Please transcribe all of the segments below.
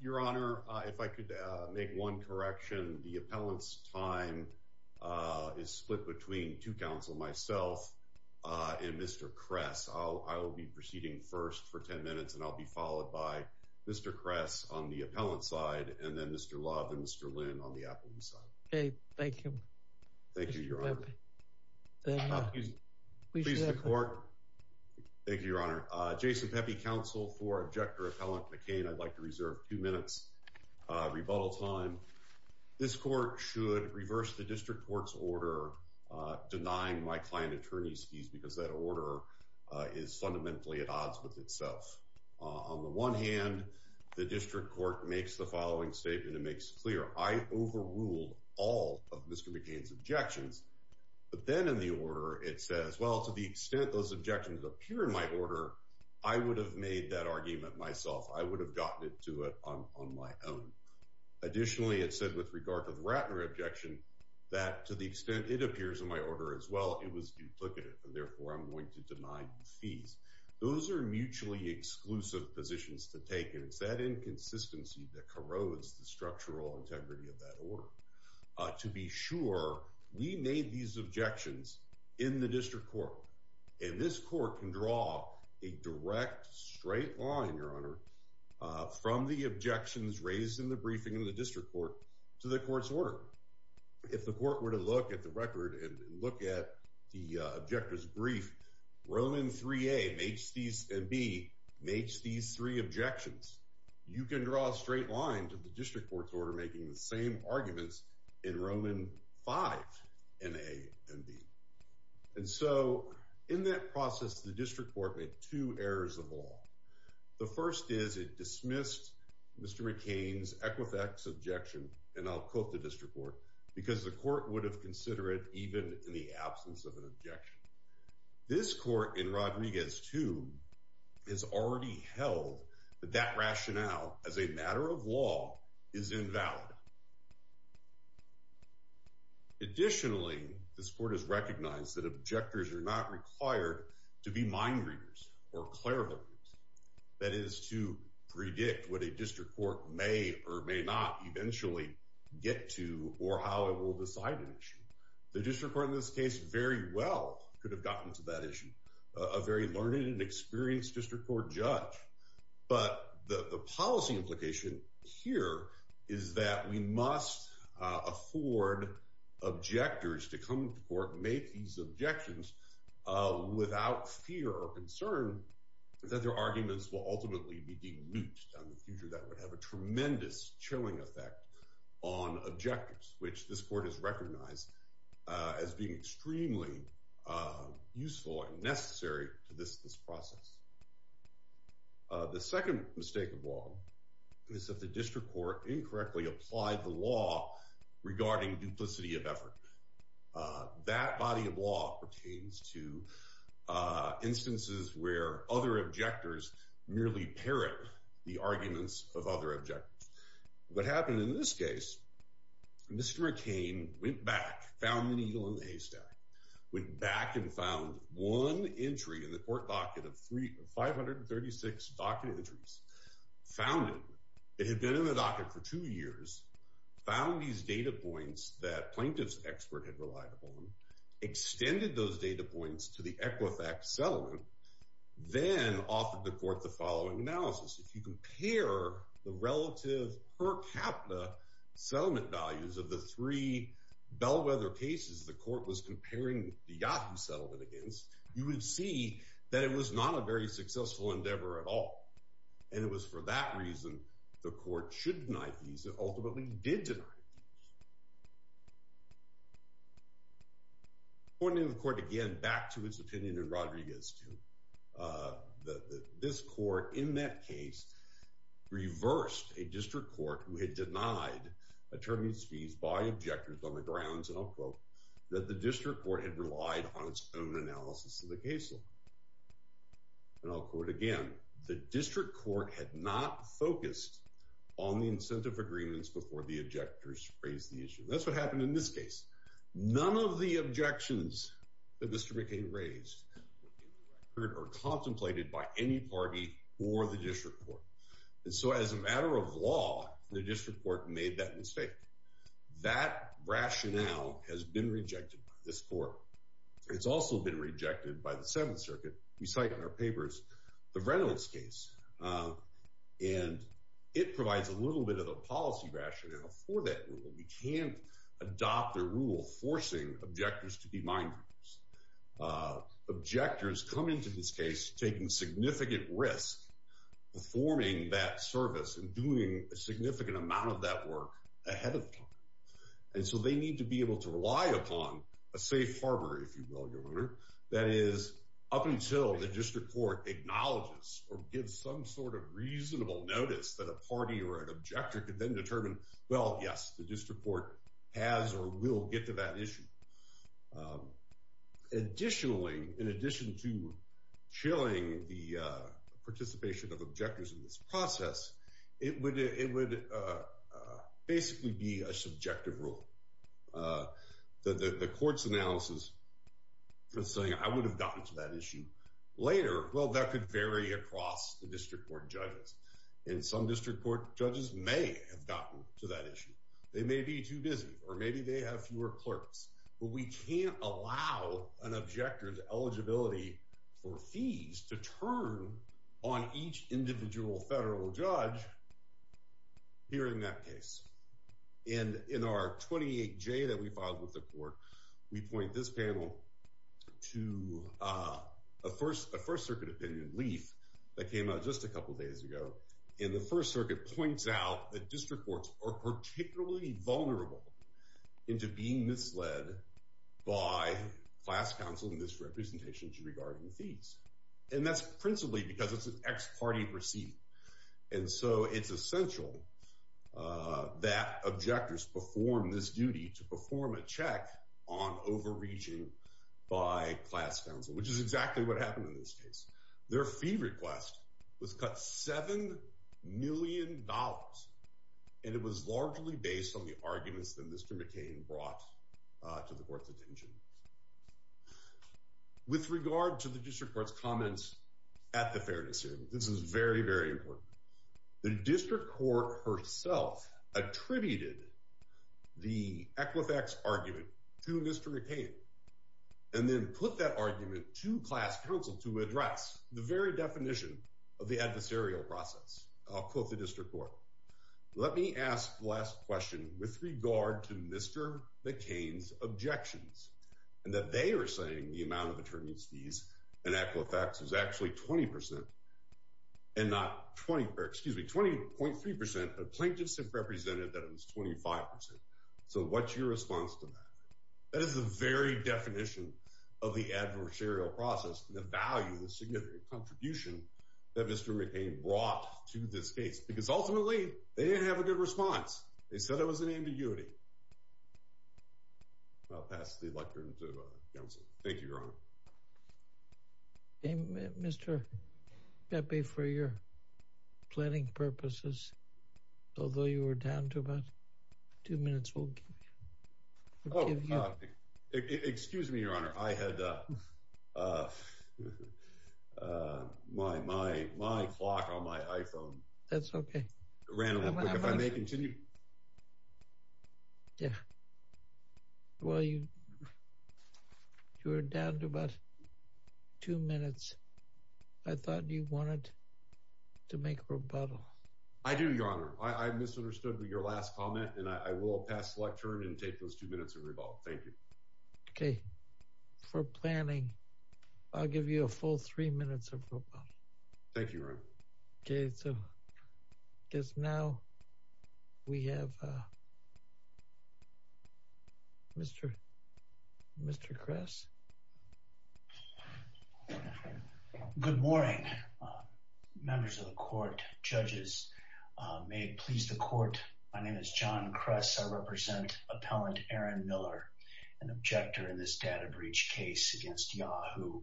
Your Honor, if I could make one correction, the appellant's time is split between two counsel, myself and Mr. Kress. I will be proceeding first for ten minutes and I'll be followed by Mr. Kress on the appellant's side and then Mr. Love and Mr. Lynn on the appellant's side. Okay, thank you. Thank you, Your Honor. We appreciate it. Mr. Court. Thank you, Your Honor. Jason Pepe, counsel for Objector Appellant McCain. I'd like to reserve two minutes rebuttal time. This court should reverse the district court's order denying my client attorney's fees because that order is fundamentally at odds with itself. On the one hand, the district court makes the following statement and makes it clear, I overruled all of Mr. McCain's objections. But then in the order, it says, well, to the extent those objections appear in my order, I would have made that argument myself. I would have gotten it to it on my own. Additionally, it said with regard to the Ratner objection, that to the extent it appears in my order as well, it was duplicative and therefore I'm going to deny the fees. Those are mutually exclusive positions to take and it's that inconsistency that corrodes the structural integrity of that order. To be sure, we made these objections in the district court. And this court can draw a direct straight line, Your Honor, from the objections raised in the briefing in the district court to the court's order. If the court were to look at the record and look at the objector's brief, Roman 3A and B makes these three objections. You can draw a straight line to the district court's order making the same arguments in Roman 5 in A and B. And so in that process, the district court made two errors of all. The first is it dismissed Mr. McCain's Equifax objection. And I'll quote the district court because the court would have consider it even in the absence of an objection. This court in Rodriguez 2 has already held that that rationale as a matter of law is invalid. Additionally, this court has recognized that objectors are not required to be mind readers or clairvoyant. That is to predict what a district court may or may not eventually get to or how it will decide an issue. The district court in this case very well could have gotten to that issue. A very learned and experienced district court judge. But the policy implication here is that we must afford objectors to come to court and make these objections without fear or concern that their arguments will ultimately be denied. That would have a tremendous chilling effect on objectives, which this court has recognized as being extremely useful and necessary to this process. The second mistake of law is that the district court incorrectly applied the law regarding duplicity of effort. That body of law pertains to instances where other objectors merely parrot the arguments of other objectives. What happened in this case, Mr. McCain went back, found an eagle in the haystack, went back and found one entry in the court docket of 536 docket entries. Found it. It had been in the docket for two years, found these data points that plaintiff's expert had relied upon, extended those data points to the Equifax settlement, then offered the court the following analysis. If you compare the relative per capita settlement values of the three bellwether cases the court was comparing the Yahoo settlement against, you would see that it was not a very successful endeavor at all. And it was for that reason the court should deny these and ultimately did. Pointing the court again back to his opinion and Rodriguez to this court in that case reversed a district court who had denied attorneys fees by objectors on the grounds and I'll quote that the district court had relied on its own analysis of the case law. And I'll quote again, the district court had not focused on the incentive agreements before the objectors raised the issue. That's what happened in this case. None of the objections that Mr. McCain raised are contemplated by any party or the district court. And so as a matter of law, the district court made that mistake. That rationale has been rejected by this court. It's also been rejected by the Seventh Circuit. We cite in our papers the Reynolds case, and it provides a little bit of a policy rationale for that. We can't adopt a rule forcing objectors to be mind. Objectors come into this case, taking significant risk, performing that service and doing a significant amount of that work ahead of time. And so they need to be able to rely upon a safe harbor, if you will, your honor. That is, up until the district court acknowledges or gives some sort of reasonable notice that a party or an objector could then determine, well, yes, the district court has or will get to that issue. Additionally, in addition to chilling the participation of objectors in this process, it would basically be a subjective rule. The court's analysis was saying, I would have gotten to that issue later. Well, that could vary across the district court judges. And some district court judges may have gotten to that issue. They may be too busy, or maybe they have fewer clerks. But we can't allow an objector's eligibility for fees to turn on each individual federal judge hearing that case. And in our 28-J that we filed with the court, we point this panel to a First Circuit opinion, LEAF, that came out just a couple of days ago. And the First Circuit points out that district courts are particularly vulnerable into being misled by class counsel misrepresentations regarding fees. And that's principally because it's an ex parte proceeding. And so it's essential that objectors perform this duty to perform a check on overreaching by class counsel, which is exactly what happened in this case. Their fee request was cut $7 million. And it was largely based on the arguments that Mr. McCain brought to the court's attention. With regard to the district court's comments at the fairness hearing, this is very, very important. The district court herself attributed the Equifax argument to Mr. McCain, and then put that argument to class counsel to address the very definition of the adversarial process. I'll quote the district court. Let me ask the last question with regard to Mr. McCain's objections, and that they are saying the amount of attorney's fees in Equifax is actually 20%, and not 20, excuse me, 20.3%, but plaintiffs have represented that it was 25%. So what's your response to that? That is the very definition of the adversarial process, the value, the significant contribution that Mr. McCain brought to this case, because ultimately, they didn't have a good response. They said it was an ambiguity. I'll pass the electorate to counsel. Thank you, Your Honor. Mr. Pepe, for your planning purposes, although you were down to about two minutes, we'll give you... Oh, excuse me, Your Honor. I had my clock on my iPhone. That's okay. Ran a little quick. If I may continue. Yeah. Well, you were down to about two minutes. I thought you wanted to make rebuttal. I do, Your Honor. I misunderstood your last comment, and I will pass the electorate and take those two minutes of rebuttal. Thank you. Okay. For planning, I'll give you a full three minutes of rebuttal. Thank you, Your Honor. Okay, so I guess now we have Mr. Kress. Good morning, members of the court, judges. May it please the court, my name is John Kress. I represent Appellant Aaron Miller, an objector in this data breach case against Yahoo.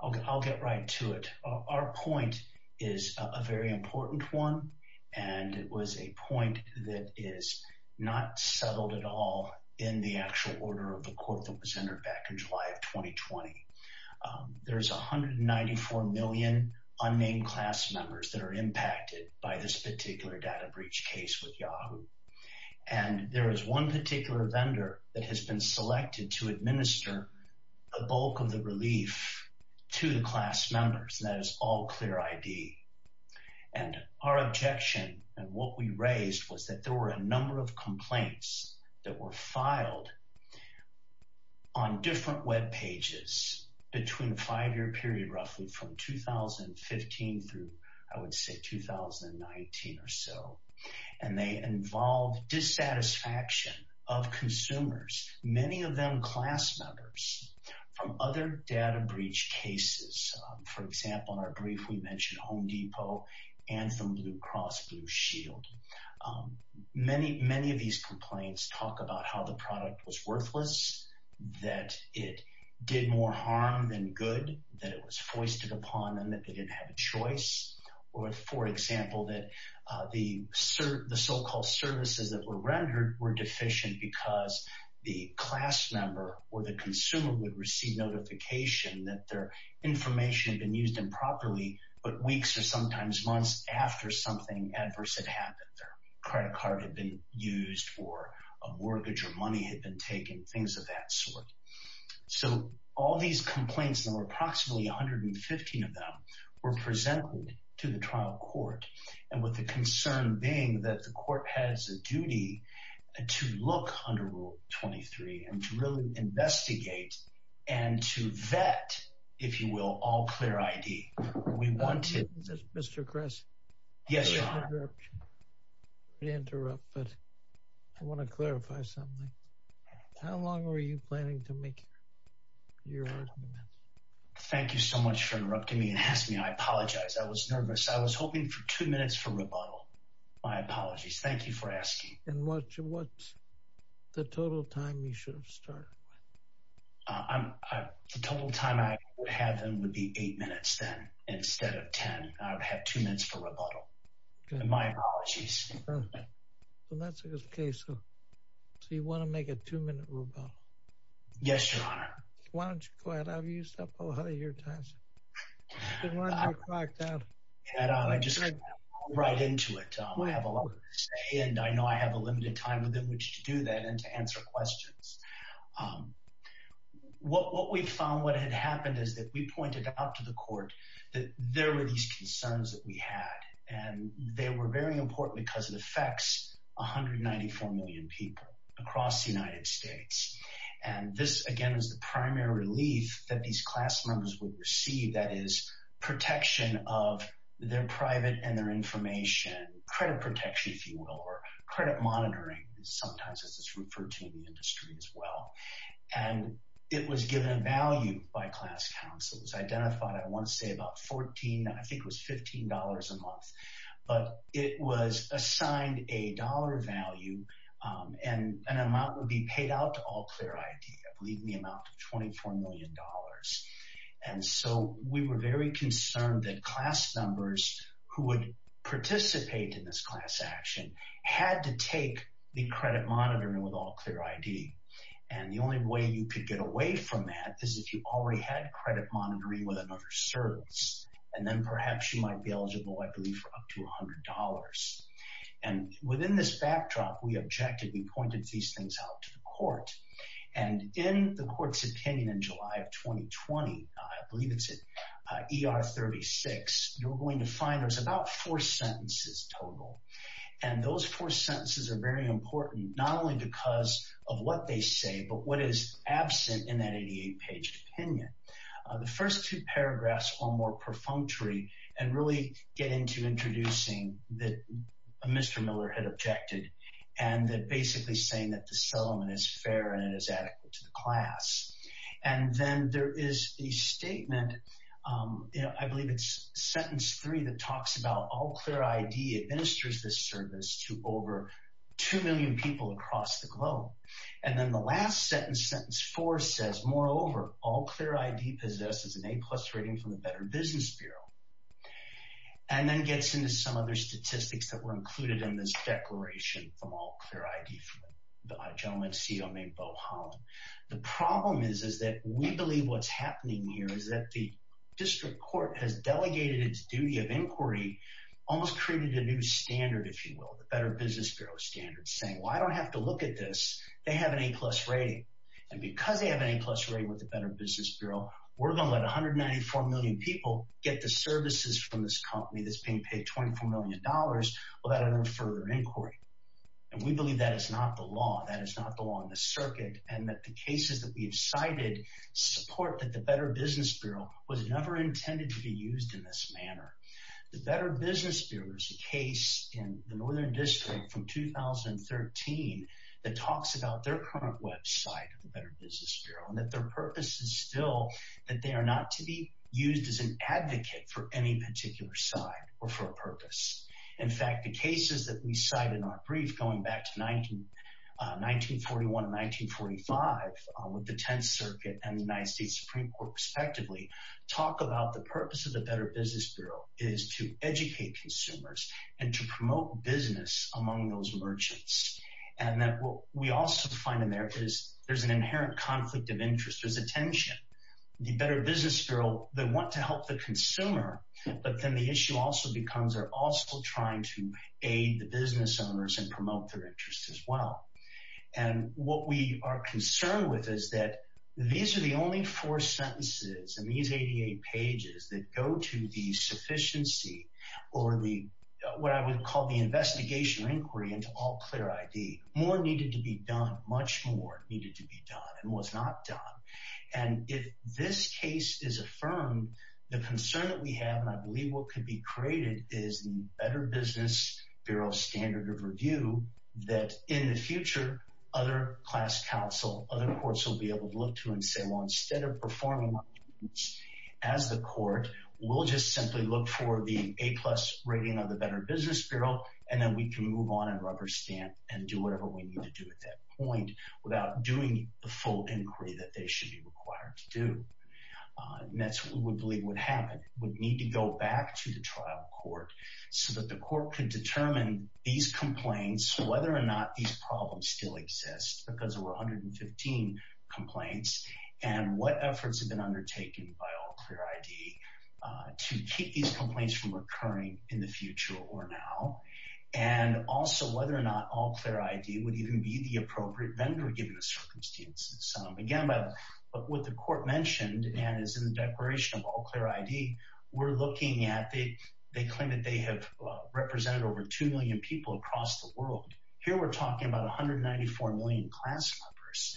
I'll get right to it. Our point is a very important one, and it was a point that is not settled at all in the actual order of the court that was entered back in July of 2020. There's 194 million unnamed class members that are impacted by this particular data breach case with Yahoo. And there is one particular vendor that has been selected to administer a bulk of the relief to the class members, and that is All Clear ID. And our objection and what we raised was that there were a number of complaints that were filed on different web pages between a five-year period roughly from 2015 through, I would say, 2019 or so. And they involve dissatisfaction of consumers, many of them class members, from other data breach cases. For example, in our brief, we mentioned Home Depot and the Blue Cross Blue Shield. Many of these complaints talk about how the product was worthless, that it did more harm than good, that it was foisted upon them, that they didn't have a choice. Or, for example, that the so-called services that were rendered were deficient because the class member or the consumer would receive notification that their information had been used improperly but weeks or sometimes months after something adverse had happened. Their credit card had been used or a mortgage or money had been taken, things of that sort. So all these complaints, there were approximately 115 of them, were presented to the trial court and with the concern being that the court has a duty to look under Rule 23 and to really investigate and to vet, if you will, All Clear ID. Mr. Kress? Yes, Your Honor. I want to interrupt, but I want to clarify something. How long were you planning to make your arguments? Thank you so much for interrupting me and asking me. I apologize. I was nervous. I was hoping for two minutes for rebuttal. My apologies. Thank you for asking. And what's the total time you should have started with? The total time I would have then would be eight minutes instead of ten. I would have two minutes for rebuttal. My apologies. So that's okay. So you want to make a two-minute rebuttal? Yes, Your Honor. Why don't you go ahead? I've used up a lot of your time. I just want to get right into it. I have a lot to say and I know I have a limited time within which to do that and to answer questions. What we found, what had happened is that we pointed out to the court that there were these concerns that we had. And they were very important because it affects 194 million people across the United States. And this, again, is the primary relief that these class members would receive, that is, protection of their private and their information, credit protection, if you will, or credit monitoring. Sometimes this is referred to in the industry as well. And it was given a value by class counsel. It was identified, I want to say, about $14, I think it was $15 a month. But it was assigned a dollar value and an amount would be paid out to All Clear ID, I believe, the amount of $24 million. And so we were very concerned that class members who would participate in this class action had to take the credit monitoring with All Clear ID. And the only way you could get away from that is if you already had credit monitoring with another service. And then perhaps you might be eligible, I believe, for up to $100. And within this backdrop, we objected. We pointed these things out to the court. And in the court's opinion in July of 2020, I believe it's at ER 36, you're going to find there's about four sentences total. And those four sentences are very important, not only because of what they say, but what is absent in that 88-page opinion. The first two paragraphs are more perfunctory and really get into introducing that Mr. Miller had objected. And they're basically saying that the settlement is fair and it is adequate to the class. And then there is a statement, I believe it's sentence three, that talks about All Clear ID administers this service to over 2 million people across the globe. And then the last sentence, sentence four, says, moreover, All Clear ID possesses an A-plus rating from the Better Business Bureau. And then gets into some other statistics that were included in this declaration from All Clear ID from the gentleman CEO named Bo Holland. The problem is that we believe what's happening here is that the district court has delegated its duty of inquiry, almost created a new standard, if you will, the Better Business Bureau standard, saying, well, I don't have to look at this. They have an A-plus rating. And because they have an A-plus rating with the Better Business Bureau, we're going to let 194 million people get the services from this company that's being paid $24 million without any further inquiry. And we believe that is not the law. That is not the law on the circuit. And that the cases that we have cited support that the Better Business Bureau was never intended to be used in this manner. The Better Business Bureau is a case in the Northern District from 2013 that talks about their current website, the Better Business Bureau, and that their purpose is still that they are not to be used as an advocate for any particular side or for a purpose. In fact, the cases that we cite in our brief going back to 1941 and 1945 with the 10th Circuit and the United States Supreme Court, respectively, talk about the purpose of the Better Business Bureau is to educate consumers and to promote business among those merchants. And that we also find in there is there's an inherent conflict of interest. There's a tension. The Better Business Bureau, they want to help the consumer, but then the issue also becomes they're also trying to aid the business owners and promote their interests as well. And what we are concerned with is that these are the only four sentences in these 88 pages that go to the sufficiency or the, what I would call the investigation or inquiry into all clear ID. More needed to be done. Much more needed to be done and was not done. And if this case is affirmed, the concern that we have, and I believe what could be created is the Better Business Bureau standard of review that in the future, other class counsel, other courts will be able to look to and say, well, instead of performing as the court, we'll just simply look for the A plus rating of the Better Business Bureau. And then we can move on and rubber stamp and do whatever we need to do at that point without doing the full inquiry that they should be required to do. And that's what we believe would happen, would need to go back to the trial court so that the court can determine these complaints, whether or not these problems still exist because there were 115 complaints and what efforts have been undertaken by all clear ID to keep these complaints from occurring in the future or now. And also whether or not all clear ID would even be the appropriate vendor given the circumstances. But what the court mentioned and is in the declaration of all clear ID, we're looking at, they claim that they have represented over 2 million people across the world. Here we're talking about 194 million class members.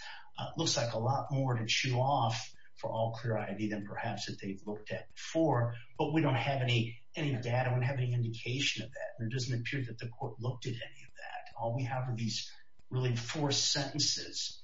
Looks like a lot more to chew off for all clear ID than perhaps that they've looked at before. But we don't have any data, we don't have any indication of that. It doesn't appear that the court looked at any of that. All we have are these really four sentences.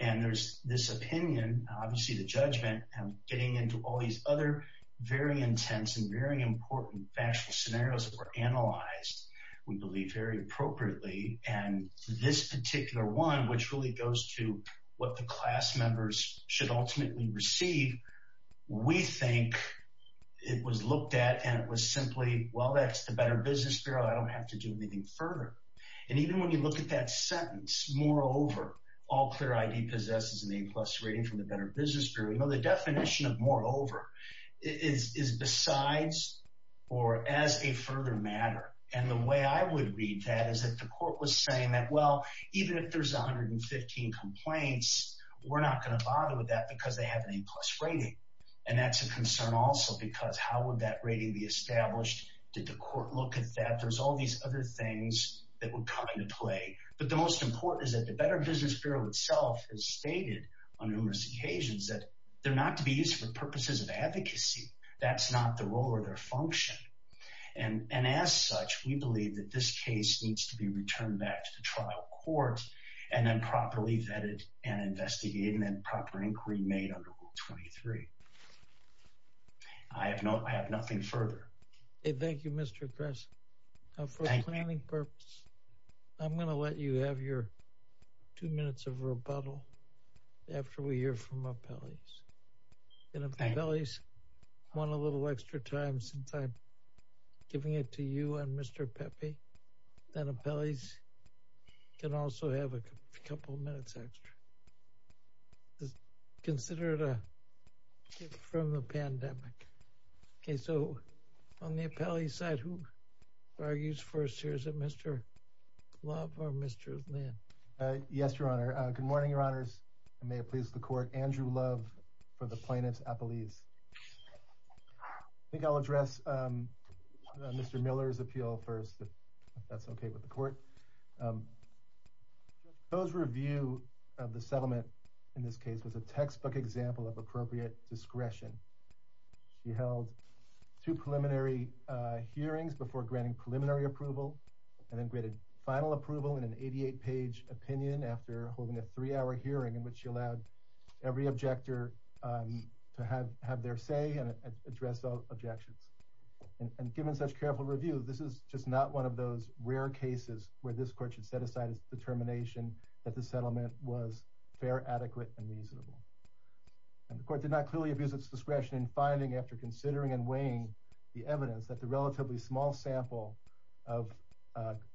And there's this opinion, obviously the judgment, and getting into all these other very intense and very important factual scenarios that were analyzed, we believe, very appropriately. And this particular one, which really goes to what the class members should ultimately receive, we think it was looked at and it was simply, well, that's the Better Business Bureau, I don't have to do anything further. And even when you look at that sentence, moreover, all clear ID possesses an A-plus rating from the Better Business Bureau, the definition of moreover is besides or as a further matter. And the way I would read that is that the court was saying that, well, even if there's 115 complaints, we're not going to bother with that because they have an A-plus rating. And that's a concern also because how would that rating be established? Did the court look at that? There's all these other things that would come into play. But the most important is that the Better Business Bureau itself has stated on numerous occasions that they're not to be used for purposes of advocacy. That's not the role or their function. And as such, we believe that this case needs to be returned back to the trial court and then properly vetted and investigated and proper inquiry made under Rule 23. I have nothing further. Thank you, Mr. Gress. For planning purposes, I'm going to let you have your two minutes of rebuttal after we hear from Appellees. And if Appellees want a little extra time since I'm giving it to you and Mr. Pepe, then Appellees can also have a couple of minutes extra. Consider it a gift from the pandemic. OK, so on the Appellee side, who argues first? Is it Mr. Love or Mr. Lynn? Yes, Your Honor. Good morning, Your Honors. And may it please the Court, Andrew Love for the plaintiff's Appellees. I think I'll address Mr. Miller's appeal first, if that's OK with the Court. Joe's review of the settlement in this case was a textbook example of appropriate discretion. She held two preliminary hearings before granting preliminary approval and then granted final approval in an 88-page opinion after holding a three-hour hearing in which she allowed every objector to have their say and address objections. And given such careful review, this is just not one of those rare cases where this Court should set aside its determination that the settlement was fair, adequate, and reasonable. The Court did not clearly abuse its discretion in finding, after considering and weighing the evidence, that the relatively small sample of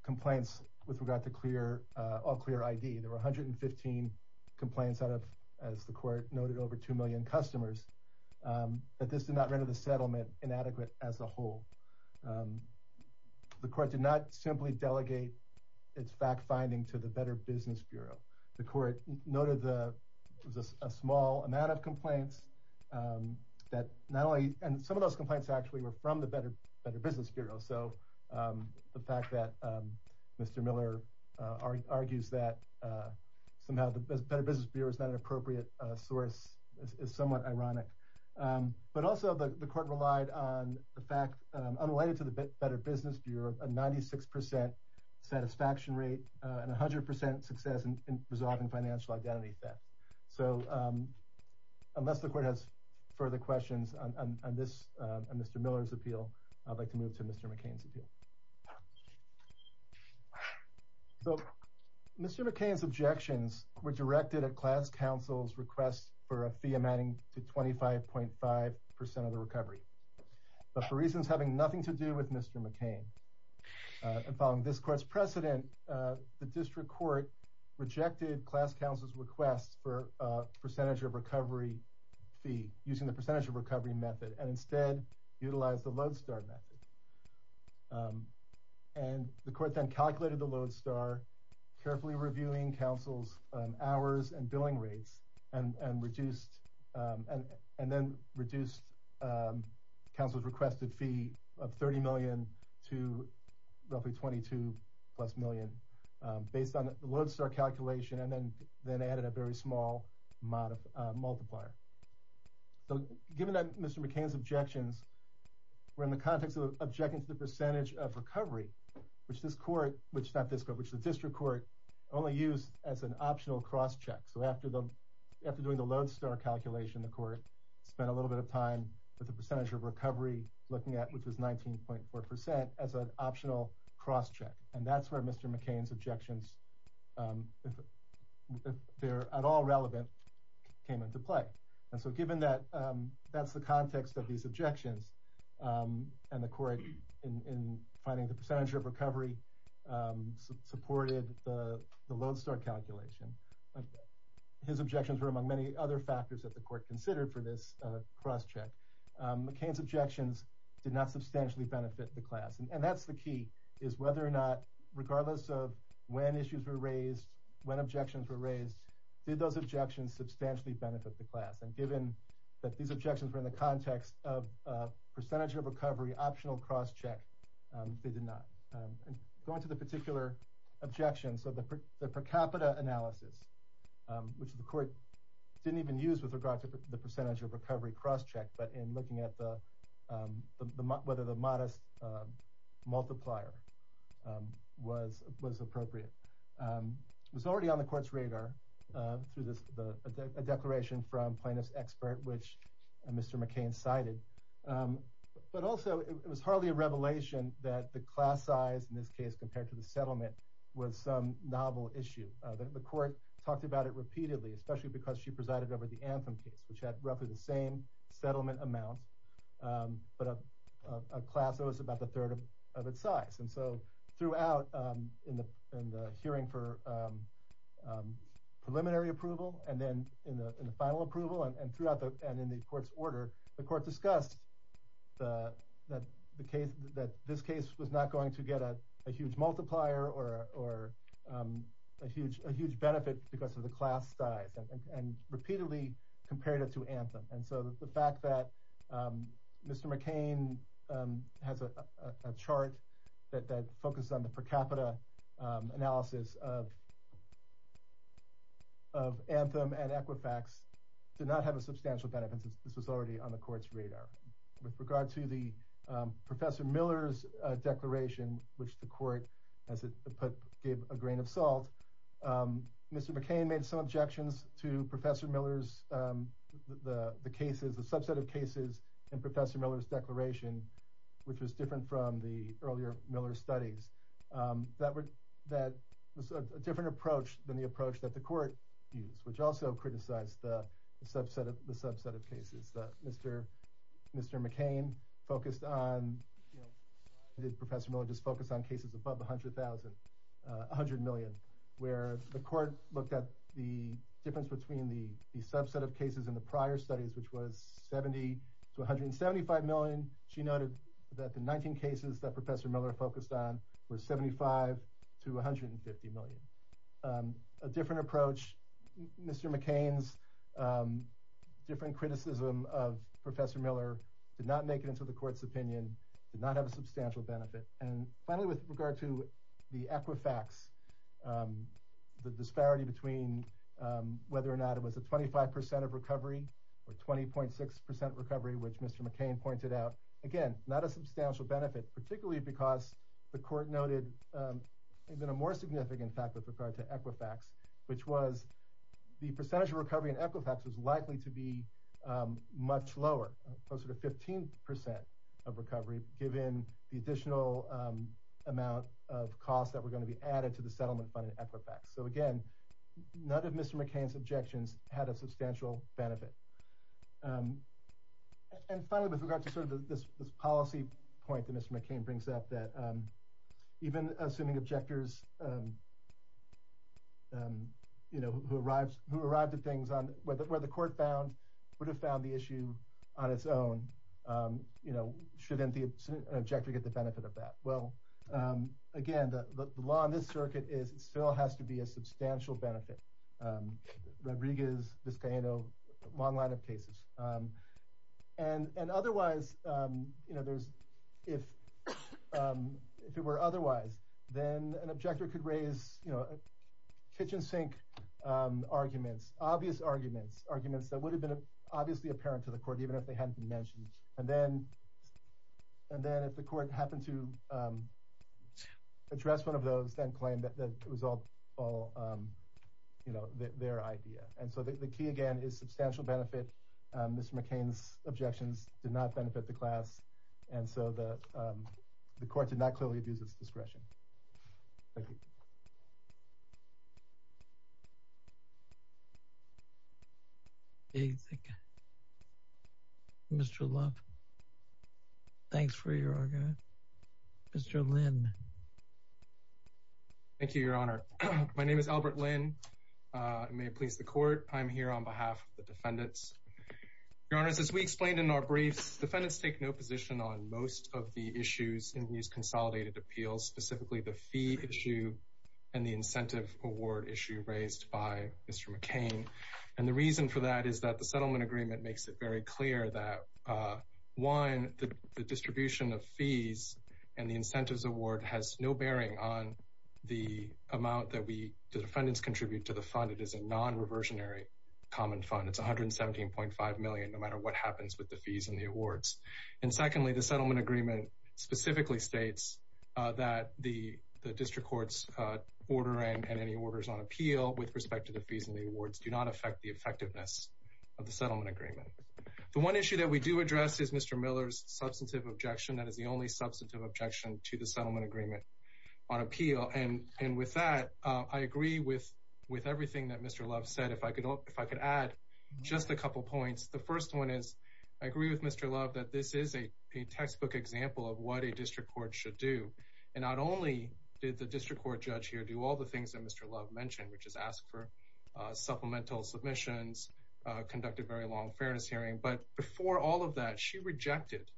complaints with regard to all-clear ID— there were 115 complaints out of, as the Court noted, over 2 million customers— that this did not render the settlement inadequate as a whole. The Court did not simply delegate its fact-finding to the Better Business Bureau. The Court noted that there was a small amount of complaints that not only— and some of those complaints actually were from the Better Business Bureau, so the fact that Mr. Miller argues that somehow the Better Business Bureau is not an appropriate source is somewhat ironic. But also, the Court relied on the fact, unrelated to the Better Business Bureau, a 96% satisfaction rate and 100% success in resolving financial identity theft. So, unless the Court has further questions on Mr. Miller's appeal, I'd like to move to Mr. McCain's appeal. So, Mr. McCain's objections were directed at Class Counsel's request for a fee amounting to 25.5% of the recovery, but for reasons having nothing to do with Mr. McCain and following this Court's precedent, the District Court rejected Class Counsel's request for a percentage of recovery fee using the percentage of recovery method and instead utilized the Lodestar method. And the Court then calculated the Lodestar, carefully reviewing Counsel's hours and billing rates, and then reduced Counsel's requested fee of $30 million to roughly $22 million, based on the Lodestar calculation and then added a very small amount of multiplier. So, given that Mr. McCain's objections were in the context of objecting to the percentage of recovery, which the District Court only used as an optional cross-check. So, after doing the Lodestar calculation, the Court spent a little bit of time with the percentage of recovery looking at, which was 19.4%, as an optional cross-check. And that's where Mr. McCain's objections, if they're at all relevant, came into play. And so, given that that's the context of these objections, and the Court, in finding the percentage of recovery, supported the Lodestar calculation, his objections were among many other factors that the Court considered for this cross-check. And that's the key, is whether or not, regardless of when issues were raised, when objections were raised, did those objections substantially benefit the class? And given that these objections were in the context of a percentage of recovery optional cross-check, they did not. Going to the particular objections, so the per capita analysis, which the Court didn't even use with regard to the percentage of recovery cross-check, but in looking at whether the modest multiplier was appropriate, was already on the Court's radar through a declaration from plaintiff's expert, which Mr. McCain cited. But also, it was hardly a revelation that the class size, in this case, compared to the settlement, was some novel issue. The Court talked about it repeatedly, especially because she presided over the Anthem case, which had roughly the same settlement amount, but a class that was about a third of its size. And so, throughout, in the hearing for preliminary approval, and then in the final approval, and in the Court's order, the Court discussed that this case was not going to get a huge multiplier, or a huge benefit because of the class size, and repeatedly compared it to Anthem. And so, the fact that Mr. McCain has a chart that focuses on the per capita analysis of Anthem and Equifax did not have a substantial benefit since this was already on the Court's radar. With regard to the Professor Miller's declaration, which the Court, as it put, gave a grain of salt, Mr. McCain made some objections to Professor Miller's, the cases, the subset of cases, and Professor Miller's declaration, which was different from the earlier Miller studies. That was a different approach than the approach that the Court used, which also criticized the subset of cases. Mr. McCain focused on, did Professor Miller just focus on cases above 100,000, 100 million, where the Court looked at the difference between the subset of cases in the prior studies, which was 70 to 175 million. She noted that the 19 cases that Professor Miller focused on were 75 to 150 million. A different approach, Mr. McCain's different criticism of Professor Miller did not make it into the Court's opinion, did not have a substantial benefit. And finally, with regard to the Equifax, the disparity between whether or not it was a 25% of recovery, or 20.6% recovery, which Mr. McCain pointed out, again, not a substantial benefit, particularly because the Court noted even a more significant factor with regard to Equifax, which was the percentage of recovery in Equifax was likely to be much lower, closer to 15% of recovery, given the additional amount of costs that were going to be added to the settlement fund in Equifax. So again, none of Mr. McCain's objections had a substantial benefit. And finally, with regard to sort of this policy point that Mr. McCain brings up, that even assuming objectors, you know, who arrived at things where the Court found, would have found the issue on its own, you know, shouldn't the objector get the benefit of that? Well, again, the law in this circuit still has to be a substantial benefit. Rodriguez, Vizcaíno, a long line of cases. And otherwise, you know, if it were otherwise, then an objector could raise, you know, kitchen sink arguments, obvious arguments, arguments that would have been obviously apparent to the Court, even if they hadn't been mentioned. And then if the Court happened to address one of those, then claim that it was all, you know, their idea. And so the key again is substantial benefit. Mr. McCain's objections did not benefit the class. And so the Court did not clearly abuse its discretion. Thank you. Mr. Love, thanks for your argument. Mr. Lin. Thank you, Your Honor. My name is Albert Lin. It may please the Court. I'm here on behalf of the defendants. Your Honors, as we explained in our briefs, defendants take no position on most of the issues in these consolidated appeals, specifically the fee issue and the incentive award issue raised by Mr. McCain. And the reason for that is that the settlement agreement makes it very clear that, one, the distribution of fees and the incentives award has no bearing on the amount that the defendants contribute to the fund. It is a non-reversionary common fund. It's $117.5 million no matter what happens with the fees and the awards. And secondly, the settlement agreement specifically states that the district court's order and any orders on appeal with respect to the fees and the awards do not affect the effectiveness of the settlement agreement. The one issue that we do address is Mr. Miller's substantive objection. That is the only substantive objection to the settlement agreement on appeal. And with that, I agree with everything that Mr. Love said. If I could add just a couple points. The first one is I agree with Mr. Love that this is a textbook example of what a district court should do. And not only did the district court judge here do all the things that Mr. Love mentioned, which is ask for supplemental submissions, conduct a very long fairness hearing, but before all of that, she rejected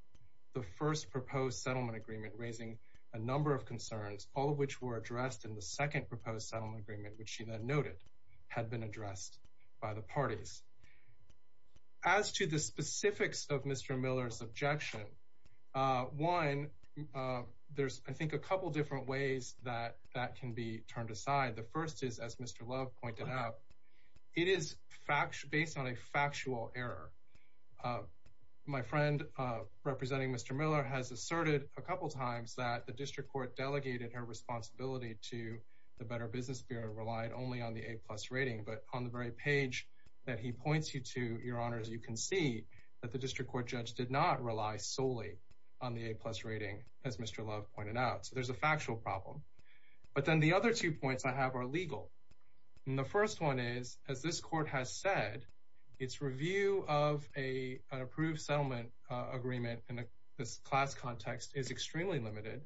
the first proposed settlement agreement raising a number of concerns, all of which were addressed in the second proposed settlement agreement, which she then noted had been addressed by the parties. As to the specifics of Mr. Miller's objection, one, there's, I think, a couple different ways that that can be turned aside. The first is, as Mr. Love pointed out, it is based on a factual error. My friend representing Mr. Miller has asserted a couple times that the district court delegated her responsibility to the Better Business Bureau, relied only on the A-plus rating, but on the very page that he points you to, Your Honors, you can see that the district court judge did not rely solely on the A-plus rating, as Mr. Love pointed out. So there's a factual problem. But then the other two points I have are legal. The first one is, as this court has said, its review of an approved settlement agreement in this class context is extremely limited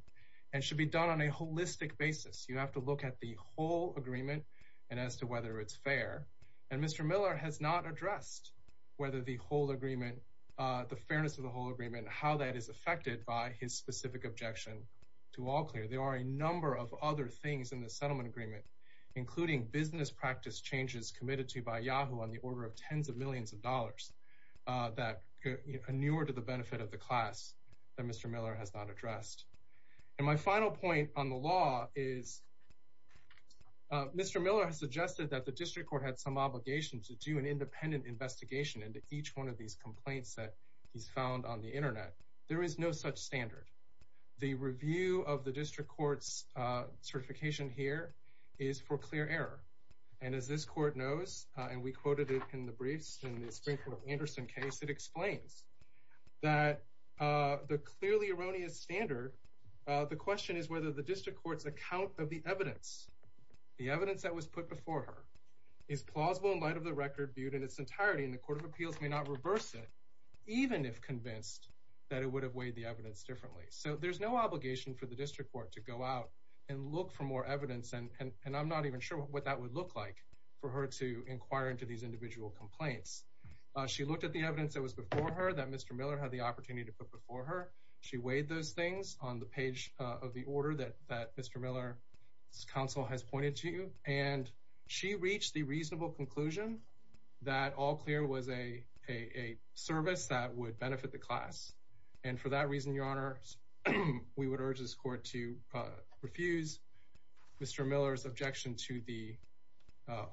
and should be done on a holistic basis. You have to look at the whole agreement and as to whether it's fair. And Mr. Miller has not addressed whether the whole agreement, the fairness of the whole agreement, how that is affected by his specific objection to all clear. There are a number of other things in the settlement agreement, including business practice changes committed to by Yahoo! on the order of tens of millions of dollars that are newer to the benefit of the class that Mr. Miller has not addressed. And my final point on the law is Mr. Miller has suggested that the district court had some obligation to do an independent investigation into each one of these complaints that he's found on the Internet. There is no such standard. The review of the district court's certification here is for clear error. And as this court knows, and we quoted it in the briefs in the Springfield-Anderson case, it explains that the clearly erroneous standard, the question is whether the district court's account of the evidence, the evidence that was put before her, is plausible in light of the record viewed in its entirety. And the Court of Appeals may not reverse it, even if convinced that it would have weighed the evidence differently. So there's no obligation for the district court to go out and look for more evidence. And I'm not even sure what that would look like for her to inquire into these individual complaints. She looked at the evidence that was before her, that Mr. Miller had the opportunity to put before her. She weighed those things on the page of the order that Mr. Miller's counsel has pointed to. And she reached the reasonable conclusion that all clear was a service that would benefit the class. And for that reason, Your Honor, we would urge this court to refuse Mr. Miller's objection to the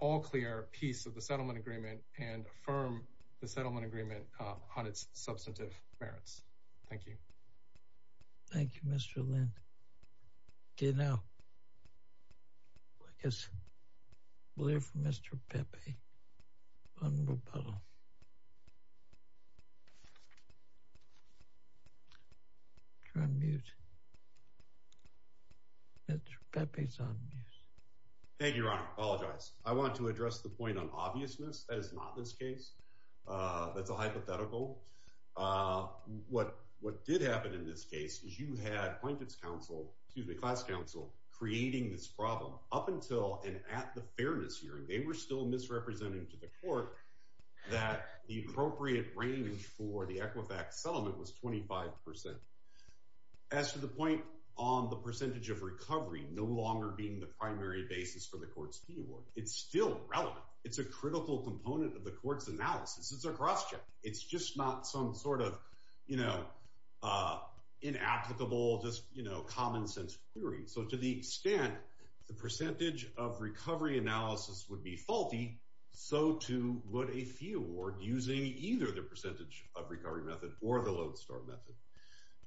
all clear piece of the settlement agreement and affirm the settlement agreement on its substantive merits. Thank you. Thank you, Mr. Lynn. Okay, now, I guess we'll hear from Mr. Pepe on rebuttal. You're on mute. Mr. Pepe's on mute. Thank you, Your Honor. I apologize. I want to address the point on obviousness. That is not this case. That's a hypothetical. What did happen in this case is you had class counsel creating this problem up until and at the fairness hearing. They were still misrepresenting to the court that the appropriate range for the Equifax settlement was 25%. As to the point on the percentage of recovery no longer being the primary basis for the court's view, it's still relevant. It's a critical component of the court's analysis. It's a cross check. It's just not some sort of, you know, inapplicable, just, you know, common sense query. So to the extent the percentage of recovery analysis would be faulty, so too would a fee award using either the percentage of recovery method or the lodestar method.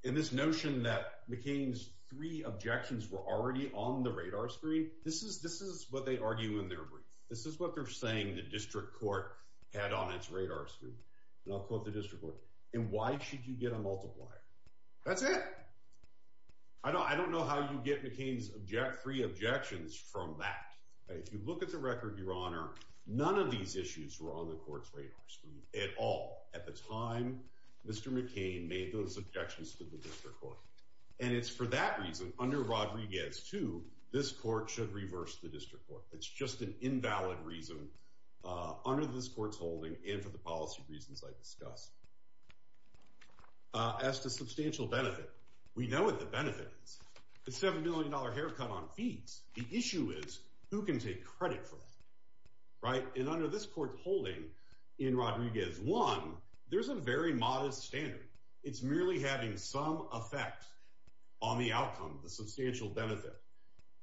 And this notion that McCain's three objections were already on the radar screen, this is what they argue in their brief. This is what they're saying the district court had on its radar screen. And I'll quote the district court. And why should you get a multiplier? That's it. I don't know how you get McCain's three objections from that. If you look at the record, Your Honor, none of these issues were on the court's radar screen at all at the time Mr. McCain made those objections to the district court. And it's for that reason, under Rodriguez 2, this court should reverse the district court. It's just an invalid reason under this court's holding and for the policy reasons I discussed. As to substantial benefit, we know what the benefit is. The $7 million haircut on fees. The issue is who can take credit for that, right? And under this court's holding in Rodriguez 1, there's a very modest standard. It's merely having some effect on the outcome, the substantial benefit.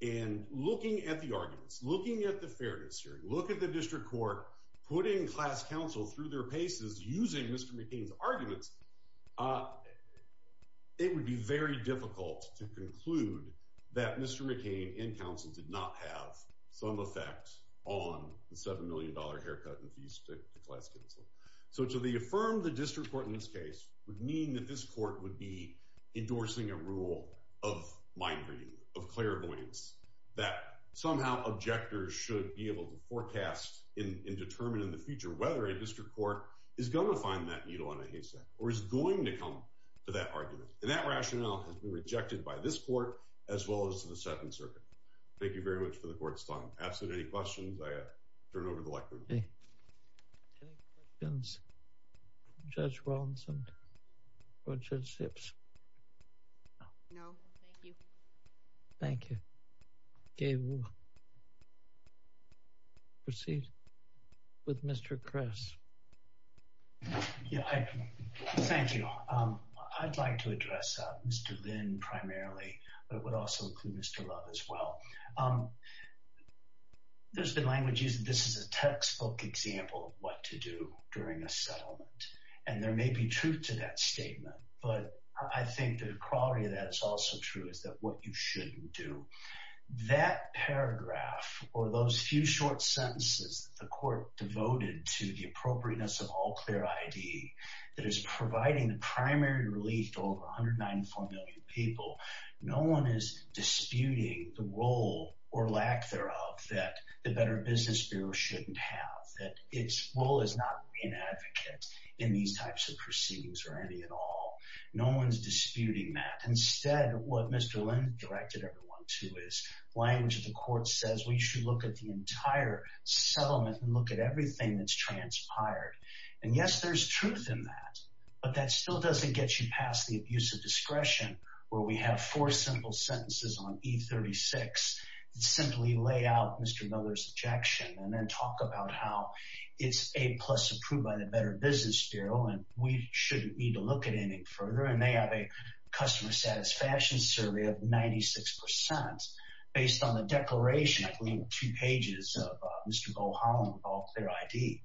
And looking at the arguments, looking at the fairness hearing, look at the district court putting class counsel through their paces using Mr. McCain's arguments. It would be very difficult to conclude that Mr. McCain and counsel did not have some effect on the $7 million haircut and fees to the class counsel. So to affirm the district court in this case would mean that this court would be endorsing a rule of mind reading, of clairvoyance, that somehow objectors should be able to forecast and determine in the future whether a district court is going to find that needle in a haystack or is going to come to that argument. And that rationale has been rejected by this court as well as to the Second Circuit. Thank you very much for the court's time. If you want to ask any questions, I turn over the microphone. Any questions for Judge Rawlinson or Judge Hips? No, thank you. Thank you. Okay, we'll proceed with Mr. Kress. Thank you. I'd like to address Mr. Lynn primarily, but I would also include Mr. Love as well. There's been language used that this is a textbook example of what to do during a settlement. And there may be truth to that statement, but I think the quality of that is also true, is that what you shouldn't do. That paragraph or those few short sentences the court devoted to the appropriateness of all clear ID that is providing the primary relief to over 194 million people, no one is disputing the role or lack thereof that the Better Business Bureau shouldn't have, that its role is not being an advocate in these types of proceedings or any at all. No one's disputing that. Instead, what Mr. Lynn directed everyone to is, language of the court says, we should look at the entire settlement and look at everything that's transpired. And yes, there's truth in that, but that still doesn't get you past the abuse of discretion, where we have four simple sentences on E36 that simply lay out Mr. Miller's objection and then talk about how it's A plus approved by the Better Business Bureau, and we shouldn't need to look at anything further. And they have a customer satisfaction survey of 96% based on the declaration, I believe, of two pages of Mr. Bo Holland with all clear ID.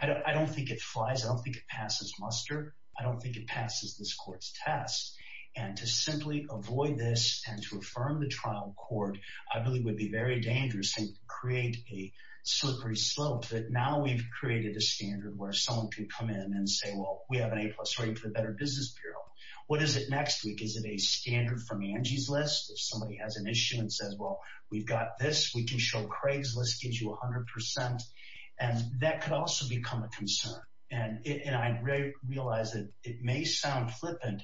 I don't think it flies. I don't think it passes muster. I don't think it passes this court's test. And to simply avoid this and to affirm the trial court, I really would be very dangerous and create a slippery slope that now we've created a standard where someone can come in and say, well, we have an A plus rating for the Better Business Bureau. What is it next week? Is it a standard from Angie's list? If somebody has an issue and says, well, we've got this, we can show Craig's list gives you 100%. And that could also become a concern. And I realize that it may sound flippant,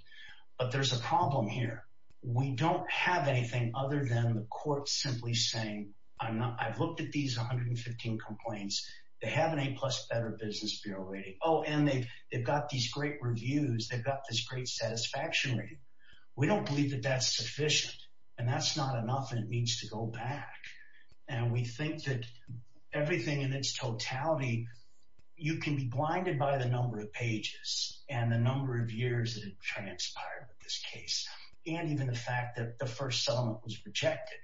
but there's a problem here. We don't have anything other than the court simply saying, I've looked at these 115 complaints. They have an A plus Better Business Bureau rating. Oh, and they've got these great reviews. They've got this great satisfaction rating. We don't believe that that's sufficient and that's not enough. And it needs to go back. And we think that everything in its totality, you can be blinded by the number of pages and the number of years that transpired with this case. And even the fact that the first settlement was rejected.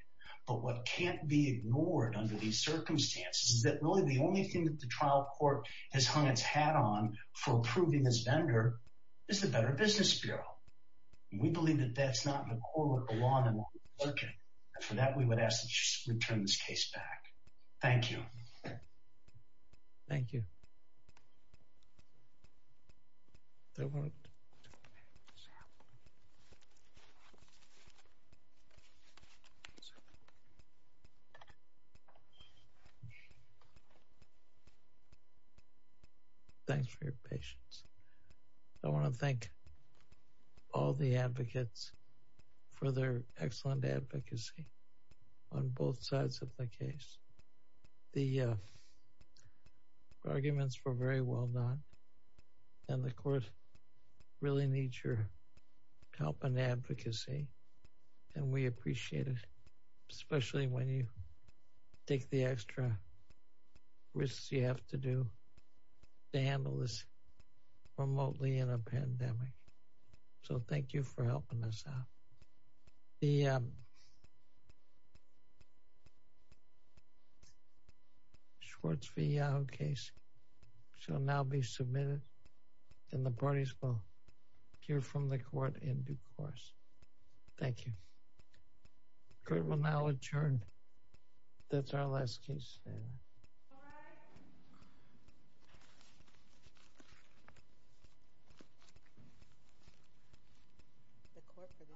But what can't be ignored under these circumstances is that really the only thing that the trial court has hung its hat on for approving this vendor is the Better Business Bureau. And we believe that that's not in the core of the law that we're working. And for that, we would ask that you return this case back. Thank you. Thank you. Thanks for your patience. I want to thank all the advocates for their excellent advocacy on both sides of the case. The arguments were very well done. And the court really needs your help and advocacy. And we appreciate it, especially when you take the extra risks you have to do to handle this remotely in a pandemic. So thank you for helping us out. The Schwartz v. Yahoo case shall now be submitted and the parties will hear from the court in due course. Thank you. Court will now adjourn. That's our last case. This court for this session stands adjourned.